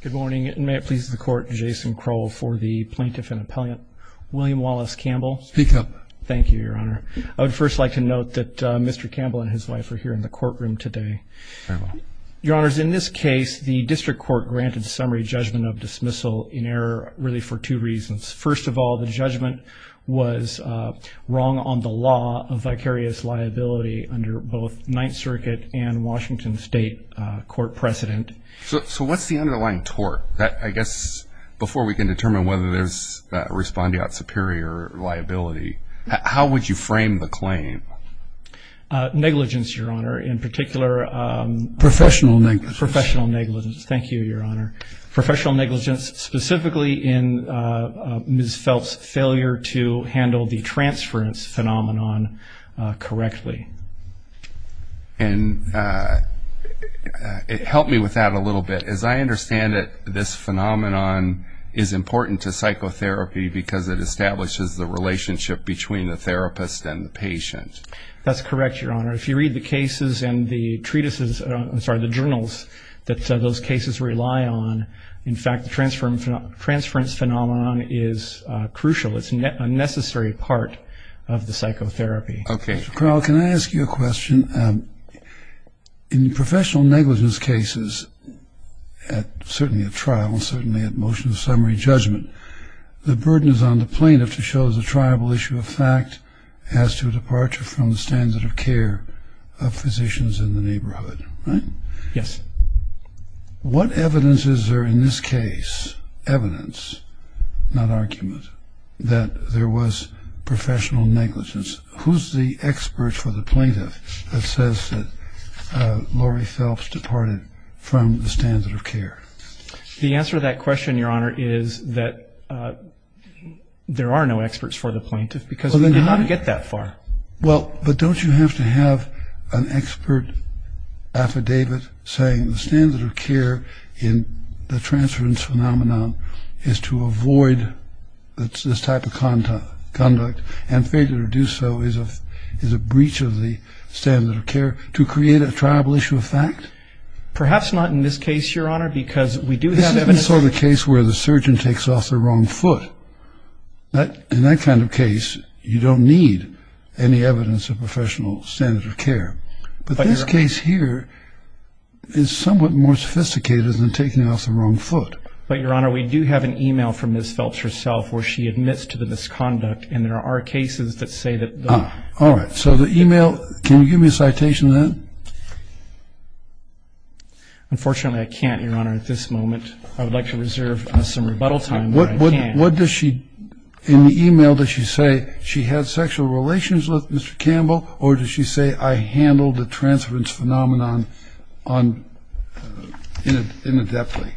Good morning, and may it please the Court, Jason Crowell for the Plaintiff and Appellant, William Wallace Campbell. Speak up. Thank you, Your Honor. I would first like to note that Mr. Campbell and his wife are here in the courtroom today. Your Honors, in this case, the District Court granted summary judgment of dismissal in error really for two reasons. First of all, the judgment was wrong on the law of vicarious liability under both Ninth Circuit and Washington State Court precedent. So what's the underlying tort that, I guess, before we can determine whether there's respondeat superior liability, how would you frame the claim? Negligence, Your Honor, in particular. Professional negligence. Professional negligence. Thank you, Your Honor. Professional negligence specifically in Ms. Phelps' failure to handle the transference phenomenon correctly. And help me with that a little bit. As I understand it, this phenomenon is important to psychotherapy because it establishes the relationship between the therapist and the patient. That's correct, Your Honor. If you read the cases and the treatises, I'm sorry, the journals that those cases rely on, in fact, the transference phenomenon is crucial. It's a necessary part of the psychotherapy. Okay. Dr. Crowell, can I ask you a question? In professional negligence cases, certainly at trial and certainly at motion of summary judgment, the burden is on the plaintiff to show the triable issue of fact as to departure from the standard of care of physicians in the neighborhood, right? Yes. What evidence is there in this case, evidence, not argument, that there was professional negligence? Who's the expert for the plaintiff that says that Lori Phelps departed from the standard of care? The answer to that question, Your Honor, is that there are no experts for the plaintiff because they did not get that far. Well, but don't you have to have an expert affidavit saying the standard of care in the is a breach of the standard of care to create a triable issue of fact? Perhaps not in this case, Your Honor, because we do have evidence. This isn't the sort of case where the surgeon takes off the wrong foot. In that kind of case, you don't need any evidence of professional standard of care. But this case here is somewhat more sophisticated than taking off the wrong foot. But Your Honor, we do have an email from Ms. Phelps herself where she admits to the misconduct and there are cases that say that. All right. So the email. Can you give me a citation to that? Unfortunately, I can't, Your Honor, at this moment. I would like to reserve some rebuttal time, but I can't. What does she, in the email, does she say she had sexual relations with Mr. Campbell or does she say I handled the transference phenomenon inadeptly?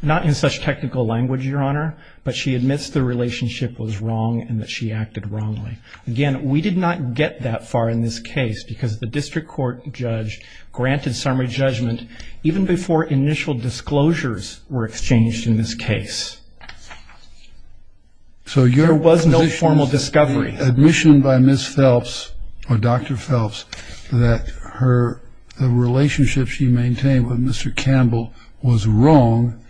Not in such technical language, Your Honor, but she admits the relationship was wrong and that she acted wrongly. Again, we did not get that far in this case because the district court judge granted summary judgment even before initial disclosures were exchanged in this case. So your position is that the admission by Ms. Phelps or Dr. Phelps that the relationship she maintained with Mr. Campbell was wrong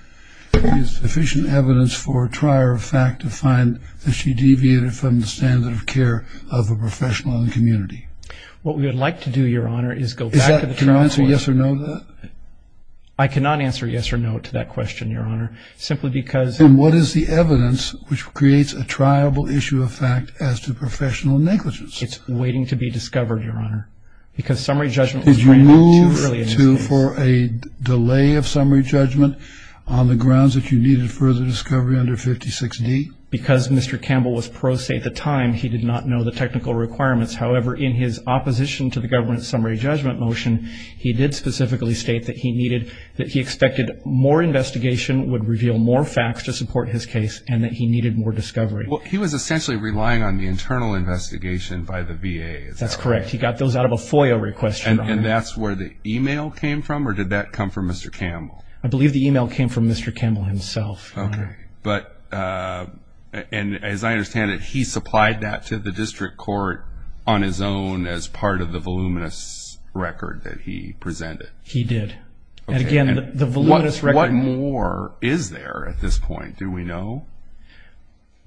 is sufficient evidence for a trier of fact to find that she deviated from the standard of care of a professional in the community? What we would like to do, Your Honor, is go back to the transference. Is that, can you answer yes or no to that? I cannot answer yes or no to that question, Your Honor, simply because... Then what is the evidence which creates a triable issue of fact as to professional negligence? It's waiting to be discovered, Your Honor, because summary judgment was granted too early in this case. Did you move to, for a delay of summary judgment on the grounds that you needed further discovery under 56D? Because Mr. Campbell was pro se at the time, he did not know the technical requirements. However, in his opposition to the government summary judgment motion, he did specifically state that he needed, that he expected more investigation would reveal more facts to support his case and that he needed more discovery. He was essentially relying on the internal investigation by the VA, is that right? That's correct. He got those out of a FOIA request, Your Honor. And that's where the email came from or did that come from Mr. Campbell? I believe the email came from Mr. Campbell himself, Your Honor. But, and as I understand it, he supplied that to the district court on his own as part of the voluminous record that he presented? He did. And again, the voluminous record... What more is there at this point? Do we know?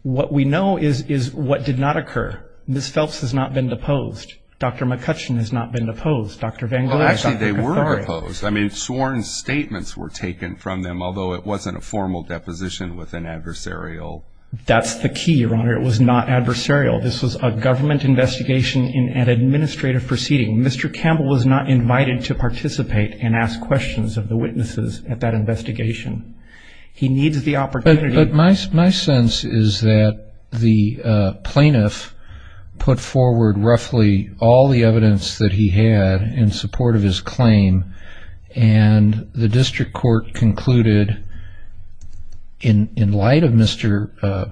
What we know is what did not occur. Ms. Phelps has not been deposed. Dr. McCutcheon has not been deposed. Dr. Van Gogh has not been deposed. Actually, they were opposed. I mean, sworn statements were taken from them, although it wasn't a formal deposition with an adversarial... That's the key, Your Honor. It was not adversarial. This was a government investigation in an administrative proceeding. Mr. Campbell was not invited to participate and ask questions of the witnesses at that investigation. He needs the opportunity... But my sense is that the plaintiff put forward roughly all the evidence that he had in support of his claim, and the district court concluded in light of Mr.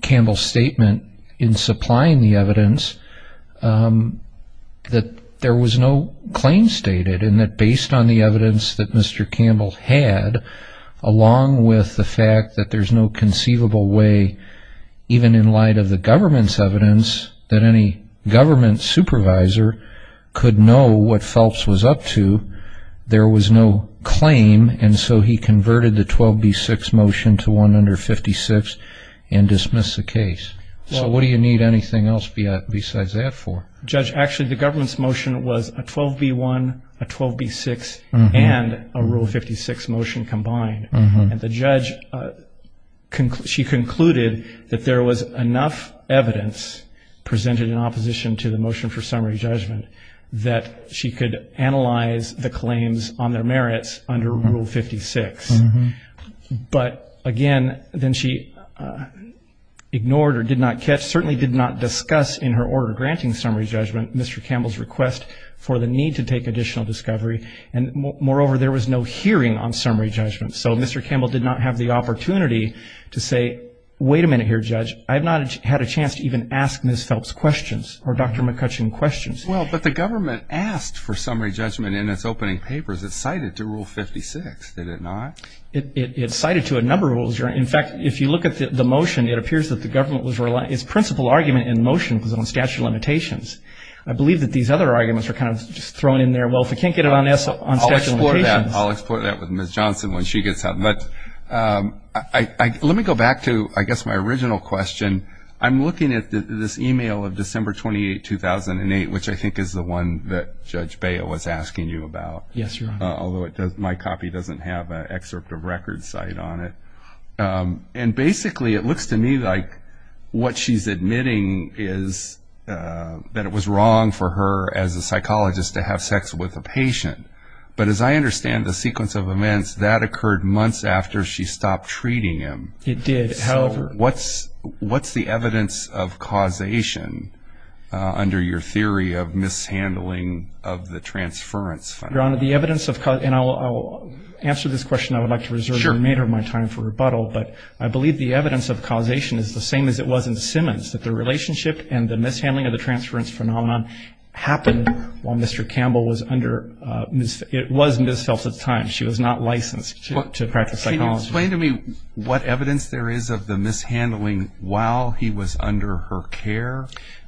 Campbell's statement in supplying the evidence that there was no claim stated, and that based on the evidence that Mr. Campbell had, along with the fact that there's no conceivable way, even in light of the government's evidence, that any government supervisor could know what Phelps was up to. There was no claim, and so he converted the 12B6 motion to one under 56 and dismissed the case. So what do you need anything else besides that for? Judge, actually, the government's motion was a 12B1, a 12B6, and a Rule 56 motion combined. The judge concluded that there was enough evidence presented in opposition to the motion for summary judgment that she could analyze the claims on their merits under Rule 56. But again, then she ignored or did not catch, certainly did not discuss in her order granting summary judgment, Mr. Campbell's request for the need to take additional discovery. And moreover, there was no hearing on summary judgment. So Mr. Campbell did not have the opportunity to say, wait a minute here, Judge, I've not had a chance to even ask Ms. Phelps questions or Dr. McCutcheon questions. Well, but the government asked for summary judgment in its opening papers. It cited to Rule 56, did it not? It cited to a number of rules. In fact, if you look at the motion, it appears that the government was relying, its principal argument in the motion was on statute of limitations. I believe that these other arguments are kind of just thrown in there, well, if we can't get it on statute of limitations. I'll explore that with Ms. Johnson when she gets out. But let me go back to, I guess, my original question. I'm looking at this email of December 28, 2008, which I think is the one that Judge Baya was asking you about. Yes, Your Honor. Although my copy doesn't have an excerpt of record cite on it. And basically, it looks to me like what she's admitting is that it was wrong for her, as a psychologist, to have sex with a patient. But as I understand the sequence of events, that occurred months after she stopped treating him. It did, however. So what's the evidence of causation under your theory of mishandling of the transference phenomenon? Your Honor, the evidence of, and I'll answer this question. I would like to reserve the remainder of my time for rebuttal. But I believe the evidence of causation is the same as it was in Simmons, that the relationship and the mishandling of the transference phenomenon happened while Mr. It was Ms. Phelps at the time. She was not licensed to practice psychology. Can you explain to me what evidence there is of the mishandling while he was under her care?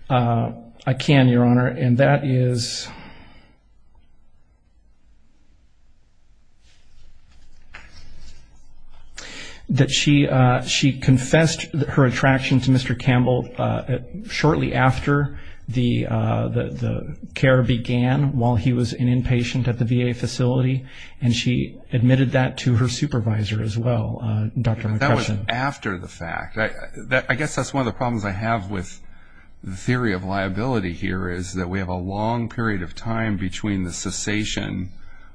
I can, Your Honor. And that is that she confessed her attraction to Mr. It was after the fact. I guess that's one of the problems I have with the theory of liability here is that we have a long period of time between the cessation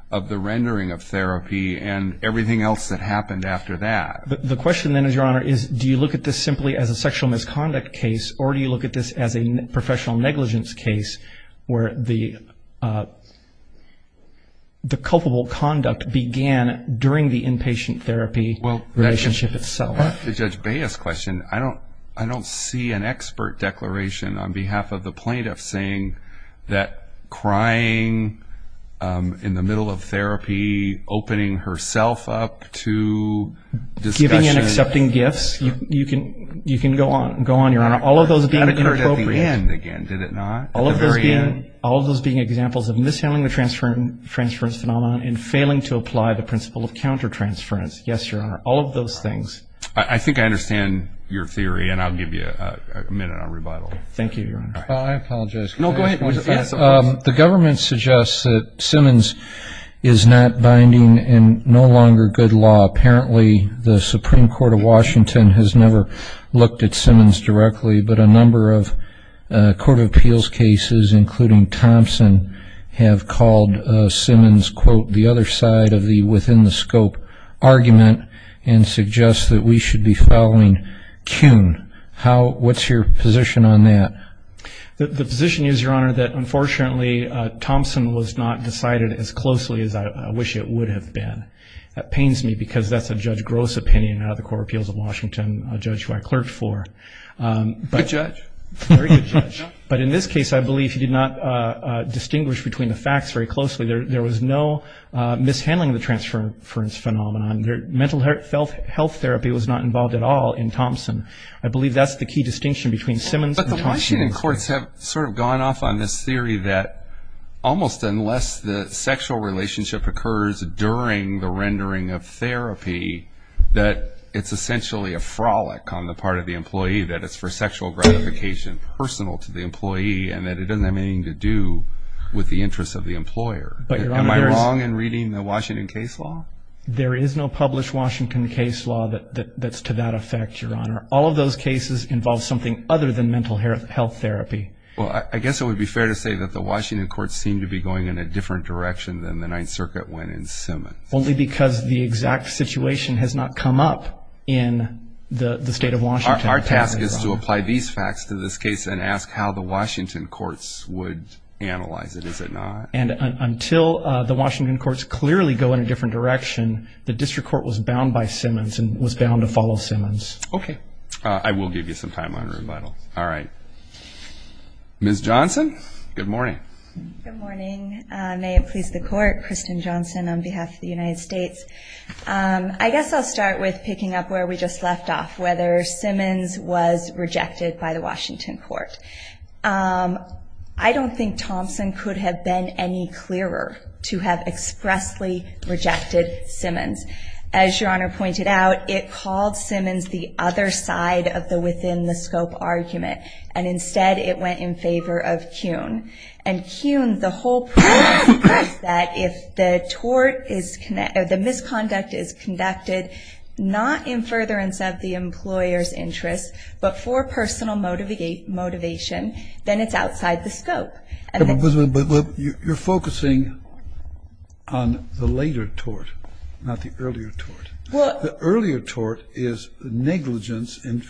of the rendering of therapy and everything else that happened after that. The question then is, Your Honor, do you look at this simply as a sexual misconduct case or do you look at this as a professional negligence case where the culpable conduct began during the inpatient therapy relationship itself? To Judge Baez's question, I don't see an expert declaration on behalf of the plaintiff saying that crying in the middle of therapy, opening herself up to discussion. All of those being inappropriate. That occurred at the end again, did it not? All of those being examples of mishandling the transference phenomenon and failing to apply the principle of counter-transference. Yes, Your Honor. All of those things. I think I understand your theory and I'll give you a minute on rebuttal. Thank you, Your Honor. I apologize. No, go ahead. The government suggests that Simmons is not binding in no longer good law. Apparently, the Supreme Court of Washington has never looked at Simmons directly, but a number of court of appeals cases, including Thompson, have called Simmons, quote, the other side of the within the scope argument and suggest that we should be following Kuhn. How, what's your position on that? The position is, Your Honor, that unfortunately, Thompson was not decided as closely as I wish it would have been. That pains me because that's a Judge Gross opinion out of the Court of Appeals of Washington, a judge who I clerked for. Good judge. Very good judge. But in this case, I believe he did not distinguish between the facts very closely. There was no mishandling of the transference phenomenon. Mental health therapy was not involved at all in Thompson. I believe that's the key distinction between Simmons and Thompson. But the Washington courts have sort of gone off on this theory that almost unless the court is considering the rendering of therapy, that it's essentially a frolic on the part of the employee, that it's for sexual gratification personal to the employee and that it doesn't have anything to do with the interests of the employer. Am I wrong in reading the Washington case law? There is no published Washington case law that's to that effect, Your Honor. All of those cases involve something other than mental health therapy. Well, I guess it would be fair to say that the Washington courts seem to be going in a different direction than the Ninth Circuit went in Simmons. Only because the exact situation has not come up in the state of Washington. Our task is to apply these facts to this case and ask how the Washington courts would analyze it, is it not? And until the Washington courts clearly go in a different direction, the district court was bound by Simmons and was bound to follow Simmons. Okay. I will give you some time on rebuttal. All right. Ms. Johnson, good morning. Good morning. May it please the court, Kristen Johnson on behalf of the United States. I guess I'll start with picking up where we just left off, whether Simmons was rejected by the Washington court. I don't think Thompson could have been any clearer to have expressly rejected Simmons. As Your Honor pointed out, it called Simmons the other side of the within-the-scope argument and instead it went in favor of Kuhn. And Kuhn, the whole point is that if the misconduct is conducted not in furtherance of the employer's interest, but for personal motivation, then it's outside the scope. But you're focusing on the later tort, not the earlier tort. The earlier tort is negligence in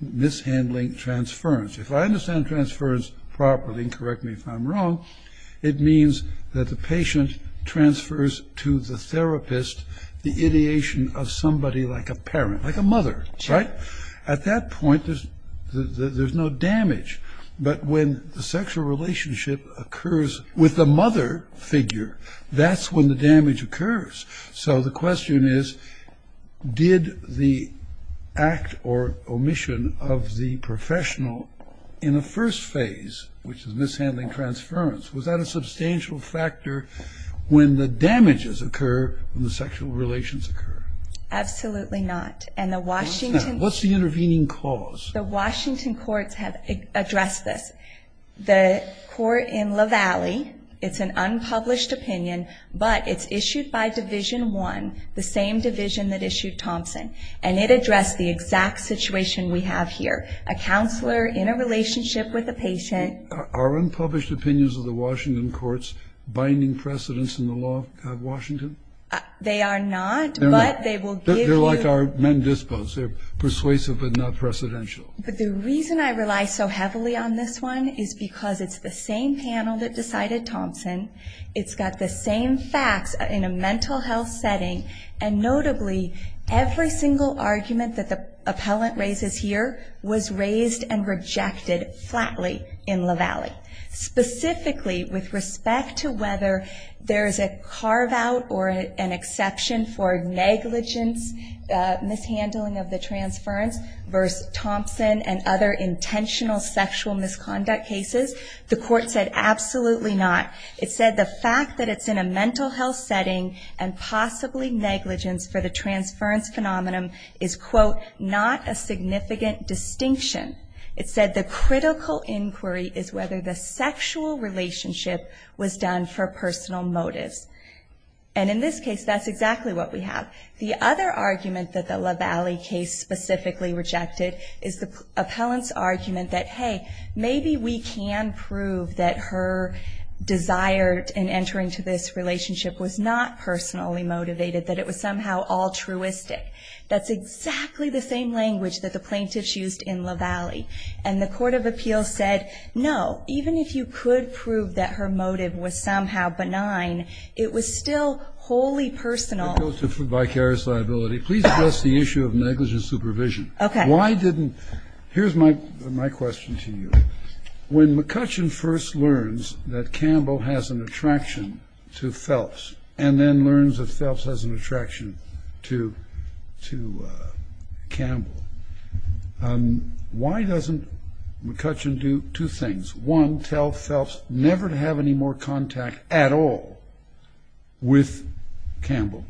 mishandling transference. If I understand transference properly, and correct me if I'm wrong, it means that the patient transfers to the therapist the ideation of somebody like a parent, like a mother, right? At that point, there's no damage. But when the sexual relationship occurs with the mother figure, that's when the damage occurs. So the question is, did the act or omission of the professional in the first phase, which is mishandling transference, was that a substantial factor when the damages occur when the sexual relations occur? Absolutely not. What's that? What's the intervening cause? The Washington courts have addressed this. The court in La Valle, it's an unpublished opinion, but it's issued by Division 1, the same division that issued Thompson. And it addressed the exact situation we have here. A counselor in a relationship with a patient. Are unpublished opinions of the Washington courts binding precedence in the law of Washington? They are not, but they will give you... They're like our Mendispo's. They're persuasive, but not precedential. The reason I rely so heavily on this one is because it's the same panel that decided Thompson. It's got the same facts in a mental health setting, and notably, every single argument that the appellant raises here was raised and rejected flatly in La Valle. Specifically, with respect to whether there's a carve out or an exception for negligence, mishandling of the transference versus Thompson and other intentional sexual misconduct cases. The court said absolutely not. It said the fact that it's in a mental health setting and possibly negligence for the transference phenomenon is, quote, not a significant distinction. It said the critical inquiry is whether the sexual relationship was done for personal motives. And in this case, that's exactly what we have. The other argument that the La Valle case specifically rejected is the appellant's argument that, hey, maybe we can prove that her desire in entering to this relationship was not personally motivated, that it was somehow altruistic. That's exactly the same language that the plaintiffs used in La Valle. And the court of appeals said, no, even if you could prove that her motive was somehow benign, it was still wholly personal. If I could go to vicarious liability, please address the issue of negligence supervision. Why didn't, here's my question to you. When McCutcheon first learns that Campbell has an attraction to Phelps and then learns that Phelps has an attraction to Campbell, why doesn't McCutcheon do two things? One, tell Phelps never to have any more contact at all with Campbell.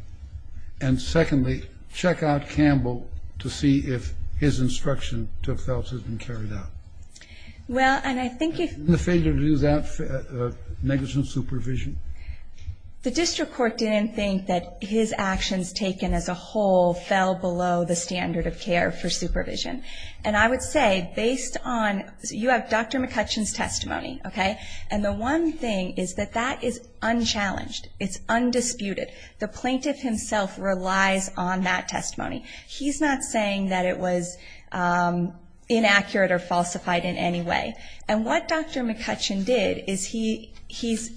And secondly, check out Campbell to see if his instruction to Phelps has been carried out. And the failure to do that, negligence supervision? The district court didn't think that his actions taken as a whole fell below the standard of care for supervision. And I would say, based on, you have Dr. McCutcheon's testimony, okay? And the one thing is that that is unchallenged. It's undisputed. The plaintiff himself relies on that testimony. He's not saying that it was inaccurate or falsified in any way. And what Dr. McCutcheon did is he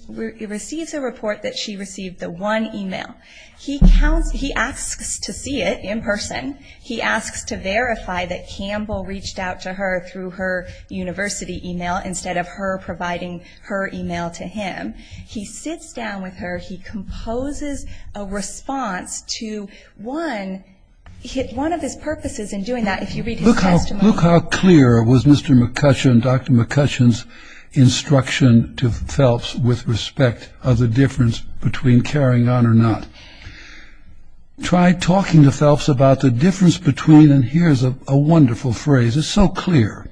receives a report that she received the one email. He asks to see it in person. He asks to verify that Campbell reached out to her through her university email instead of her providing her email to him. He sits down with her, he composes a response to one of his purposes in doing that, if you read his testimony. Look how clear was Mr. McCutcheon, Dr. McCutcheon's instruction to Phelps with respect of the difference between carrying on or not. Try talking to Phelps about the difference between, and here's a wonderful phrase, it's so clear,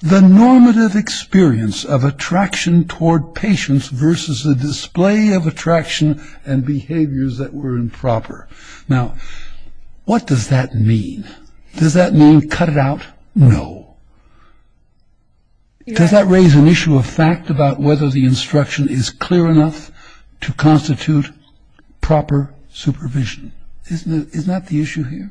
the normative experience of attraction toward patients versus the display of attraction and behaviors that were improper. Now, what does that mean? Does that mean cut it out? No. Does that raise an issue of fact about whether the instruction is clear enough to constitute proper supervision? Isn't that the issue here?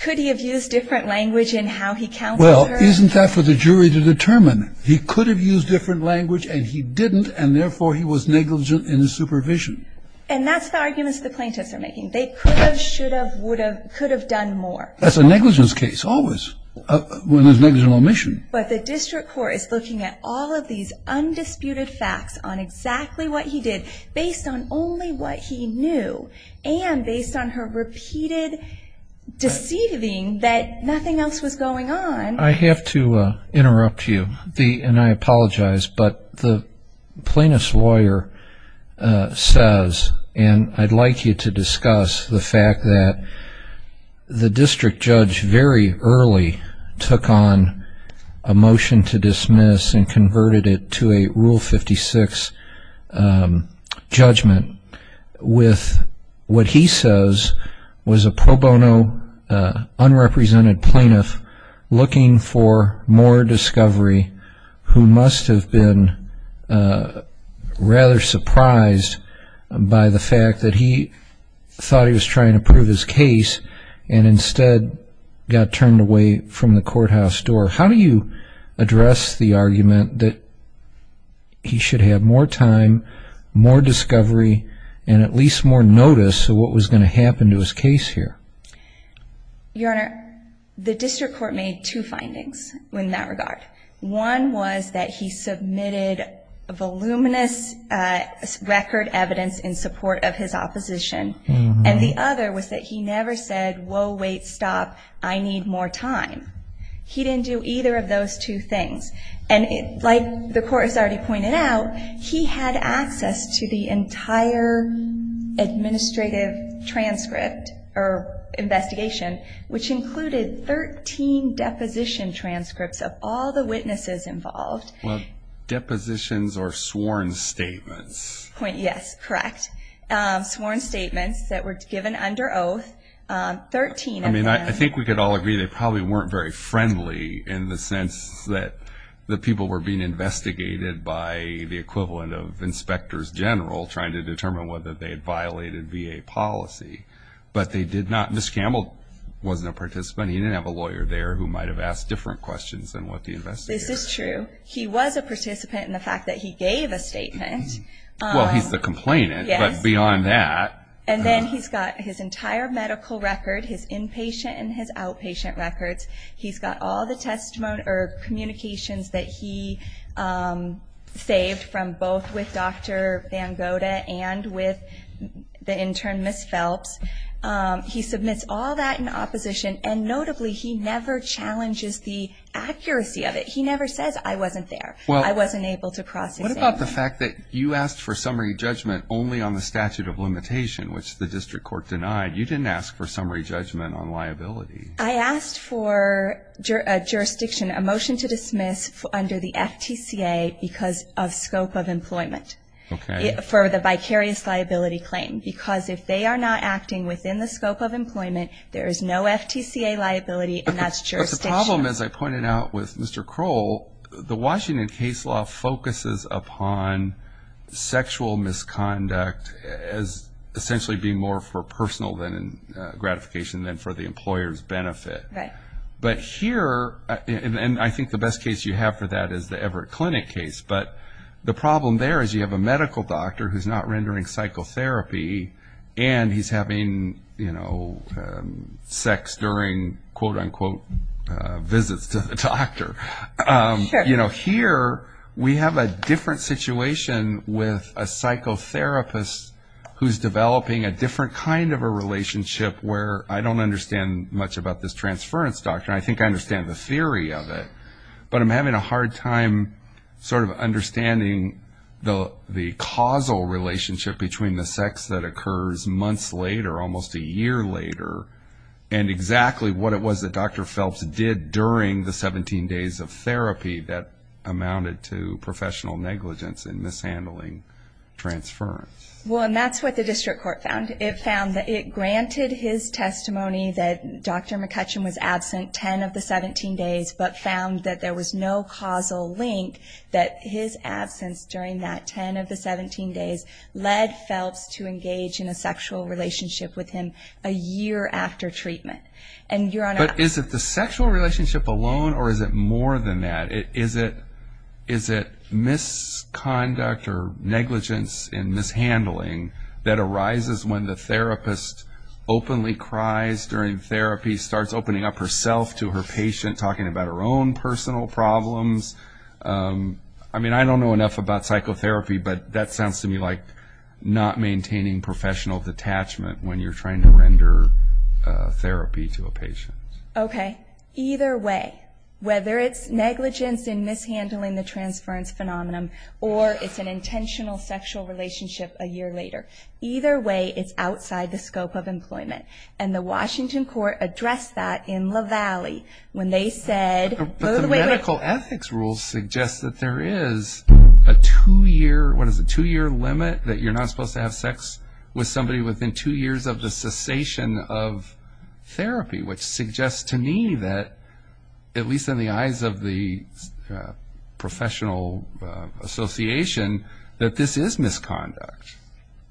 Could he have used different language in how he counseled her? Well, isn't that for the jury to determine? He could have used different language and he didn't, and therefore he was negligent in his supervision. And that's the arguments the plaintiffs are making. They could have, should have, would have, could have done more. That's a negligence case, always, when there's negligent omission. But the district court is looking at all of these undisputed facts on exactly what he did based on only what he knew and based on her repeated deceiving that nothing else was going on. I have to interrupt you, and I apologize, but the plaintiff's lawyer says, and I'd like you to discuss the fact that the district judge very early took on a motion to dismiss and converted it to a Rule 56 judgment with what he says was a pro bono, unrepresented plaintiff looking for more discovery who must have been rather surprised by the fact that he thought he was trying to prove his case and instead got turned away from the courthouse door. How do you address the argument that he should have more time, more discovery, and at least more notice of what was going to happen to his case here? Your Honor, the district court made two findings in that regard. One was that he submitted voluminous record evidence in support of his opposition, and the other was that he never said, whoa, wait, stop, I need more time. He didn't do either of those two things. And like the court has already pointed out, he had access to the entire administrative transcript or investigation, which included 13 deposition transcripts of all the witnesses involved. Well, depositions are sworn statements. Yes, correct. Sworn statements that were given under oath, 13 of them. I think we could all agree they probably weren't very friendly in the sense that the people didn't know whether they had violated VA policy. But they did not. Ms. Campbell wasn't a participant, he didn't have a lawyer there who might have asked different questions than what the investigators did. This is true. He was a participant in the fact that he gave a statement. Well, he's the complainant, but beyond that. And then he's got his entire medical record, his inpatient and his outpatient records. He's got all the testimony or communications that he saved from both with Dr. Van Goda and with the intern, Ms. Phelps. He submits all that in opposition. And notably, he never challenges the accuracy of it. He never says, I wasn't there, I wasn't able to process it. What about the fact that you asked for summary judgment only on the statute of limitation, which the district court denied? You didn't ask for summary judgment on liability. I asked for a jurisdiction, a motion to dismiss under the FTCA because of scope of employment. For the vicarious liability claim. Because if they are not acting within the scope of employment, there is no FTCA liability and that's jurisdiction. But the problem, as I pointed out with Mr. Kroll, the Washington case law focuses upon sexual misconduct as essentially being more for personal gratification than for the employer's benefit. Right. But here, and I think the best case you have for that is the Everett Clinic case, but the medical doctor who's not rendering psychotherapy and he's having, you know, sex during quote unquote visits to the doctor. You know, here we have a different situation with a psychotherapist who's developing a different kind of a relationship where I don't understand much about this transference doctrine. I think I understand the theory of it. But I'm having a hard time sort of understanding the causal relationship between the sex that occurs months later, almost a year later, and exactly what it was that Dr. Phelps did during the 17 days of therapy that amounted to professional negligence and mishandling transference. Well, and that's what the district court found. It found that it granted his testimony that Dr. McCutcheon was absent 10 of the 17 days but found that there was no causal link that his absence during that 10 of the 17 days led Phelps to engage in a sexual relationship with him a year after treatment. And you're on a... But is it the sexual relationship alone or is it more than that? Is it misconduct or negligence and mishandling that arises when the therapist openly cries during therapy, starts opening up herself to her patient, talking about her own personal problems? I mean, I don't know enough about psychotherapy, but that sounds to me like not maintaining professional detachment when you're trying to render therapy to a patient. Okay. Either way, whether it's negligence and mishandling the transference phenomenon or it's an intentional sexual relationship a year later, either way, it's outside the scope of employment. And the Washington court addressed that in La Valle when they said... But the medical ethics rules suggest that there is a two-year, what is it, two-year limit that you're not supposed to have sex with somebody within two years of the cessation of therapy, which suggests to me that, at least in the eyes of the professional association, that this is misconduct.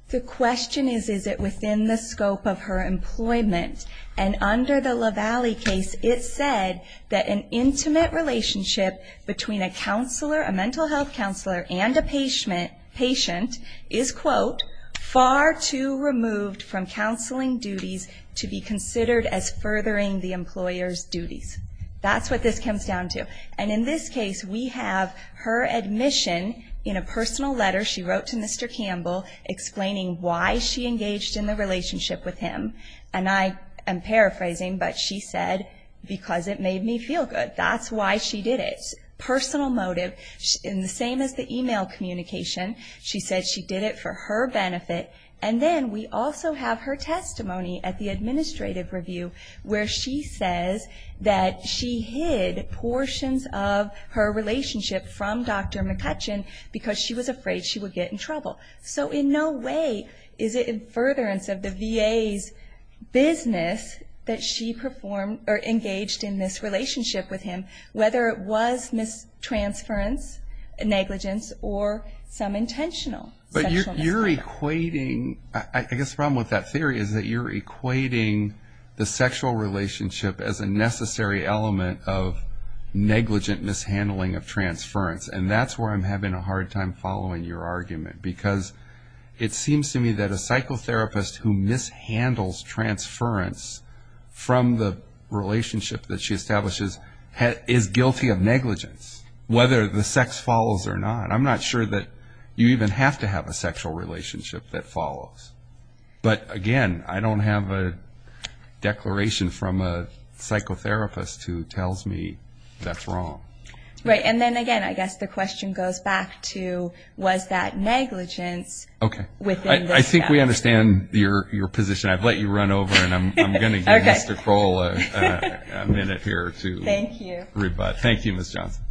The question is, is it within the scope of her employment? And under the La Valle case, it said that an intimate relationship between a counselor, a mental health counselor, and a patient is, quote, far too removed from counseling duties to be considered as furthering the employer's duties. That's what this comes down to. And in this case, we have her admission in a personal letter she wrote to Mr. Campbell explaining why she engaged in the relationship with him. And I am paraphrasing, but she said, because it made me feel good. That's why she did it. Personal motive. In the same as the email communication, she said she did it for her benefit. And then we also have her testimony at the administrative review where she says that she hid portions of her relationship from Dr. McCutcheon because she was afraid she would get in trouble. So in no way is it furtherance of the VA's business that she engaged in this relationship with him, whether it was mistransference, negligence, or some intentional sexual misconduct. But you're equating, I guess the problem with that theory is that you're equating the sexual relationship as a necessary element of negligent mishandling of transference. And that's where I'm having a hard time following your argument. Because it seems to me that a psychotherapist who mishandles transference from the relationship that she establishes is guilty of negligence, whether the sex follows or not. I'm not sure that you even have to have a sexual relationship that follows. But again, I don't have a declaration from a psychotherapist who tells me that's wrong. Right. And then again, I guess the question goes back to, was that negligence within the sex? Okay. I think we understand your position. I've let you run over and I'm going to give Mr. Kroll a minute here to rebut. Thank you. Thank you, Ms. Johnson.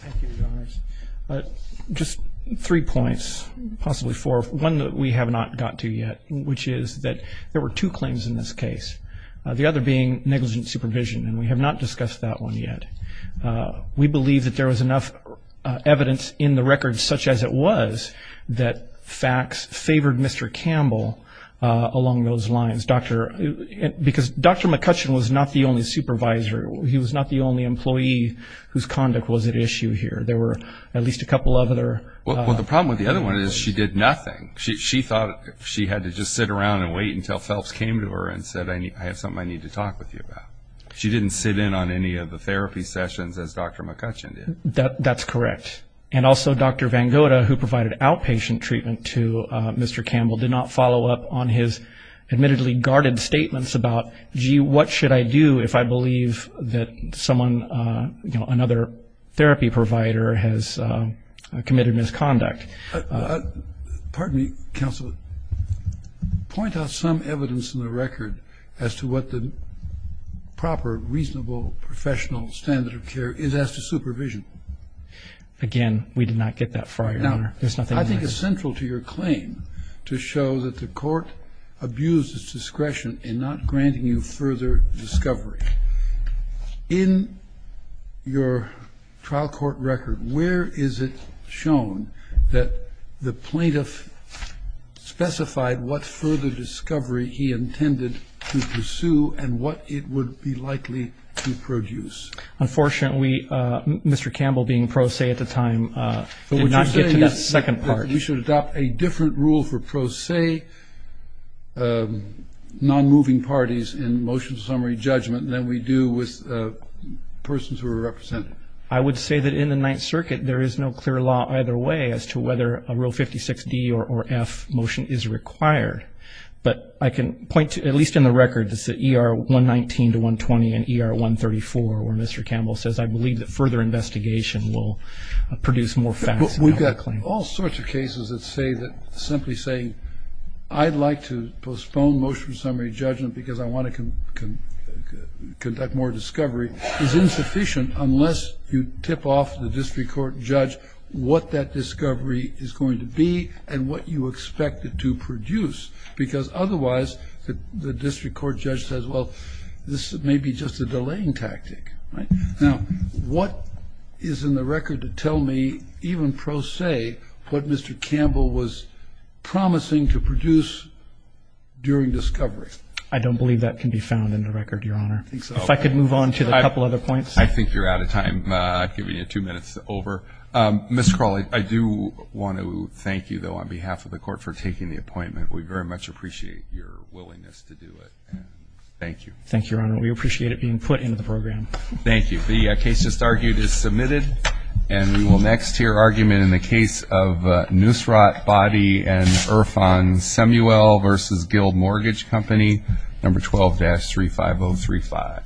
Thank you, Your Honors. Just three points, possibly four. One that we have not got to yet, which is that there were two claims in this case. The other being negligent supervision, and we have not discussed that one yet. We believe that there was enough evidence in the record, such as it was, that facts favored Mr. Campbell along those lines. Because Dr. McCutcheon was not the only supervisor. He was not the only employee whose conduct was at issue here. There were at least a couple of other... Well, the problem with the other one is she did nothing. She thought she had to just sit around and wait until Phelps came to her and said, I have something I need to talk with you about. She didn't sit in on any of the therapy sessions as Dr. McCutcheon did. That's correct. And also, Dr. Vangoda, who provided outpatient treatment to Mr. Campbell, did not follow up on his admittedly guarded statements about, gee, what should I do if I believe that someone, you know, another therapy provider has committed misconduct? Pardon me, counsel. Point out some evidence in the record as to what the proper, reasonable, professional standard of care is as to supervision. Again, we did not get that far, Your Honor. There's nothing in this. I think it's central to your claim to show that the court abused its discretion in not granting you further discovery. In your trial court record, where is it shown that the plaintiff specified what further discovery he intended to pursue and what it would be likely to produce? Unfortunately, Mr. Campbell, being pro se at the time, did not get to that second part. But would you say that we should adopt a different rule for pro se non-moving parties in motion summary judgment than we do with persons who are represented? I would say that in the Ninth Circuit, there is no clear law either way as to whether a Rule 56D or F motion is required. But I can point to, at least in the record, it's the ER 119 to 120 and ER 134 where Mr. Campbell says, I believe that further investigation will produce more facts in that claim. But we've got all sorts of cases that say that, simply saying, I'd like to postpone motion summary judgment because I want to conduct more discovery, is insufficient unless you tip off the district court judge what that discovery is going to be and what you expect it to produce, because otherwise the district court judge says, well, this may be just a delaying tactic, right? Now, what is in the record to tell me, even pro se, what Mr. Campbell was promising to produce during discovery? I don't believe that can be found in the record, Your Honor. I think so. If I could move on to a couple other points. I think you're out of time. I'd give you two minutes over. Mr. Crowley, I do want to thank you, though, on behalf of the court for taking the appointment. We very much appreciate your willingness to do it. Thank you. Thank you, Your Honor. We appreciate it being put into the program. Thank you. The case just argued is submitted. And we will next hear argument in the case of Nusrat, Boddy, and Irfan, Samuel v. Guild Mortgage Company, number 12-35035. Thank you.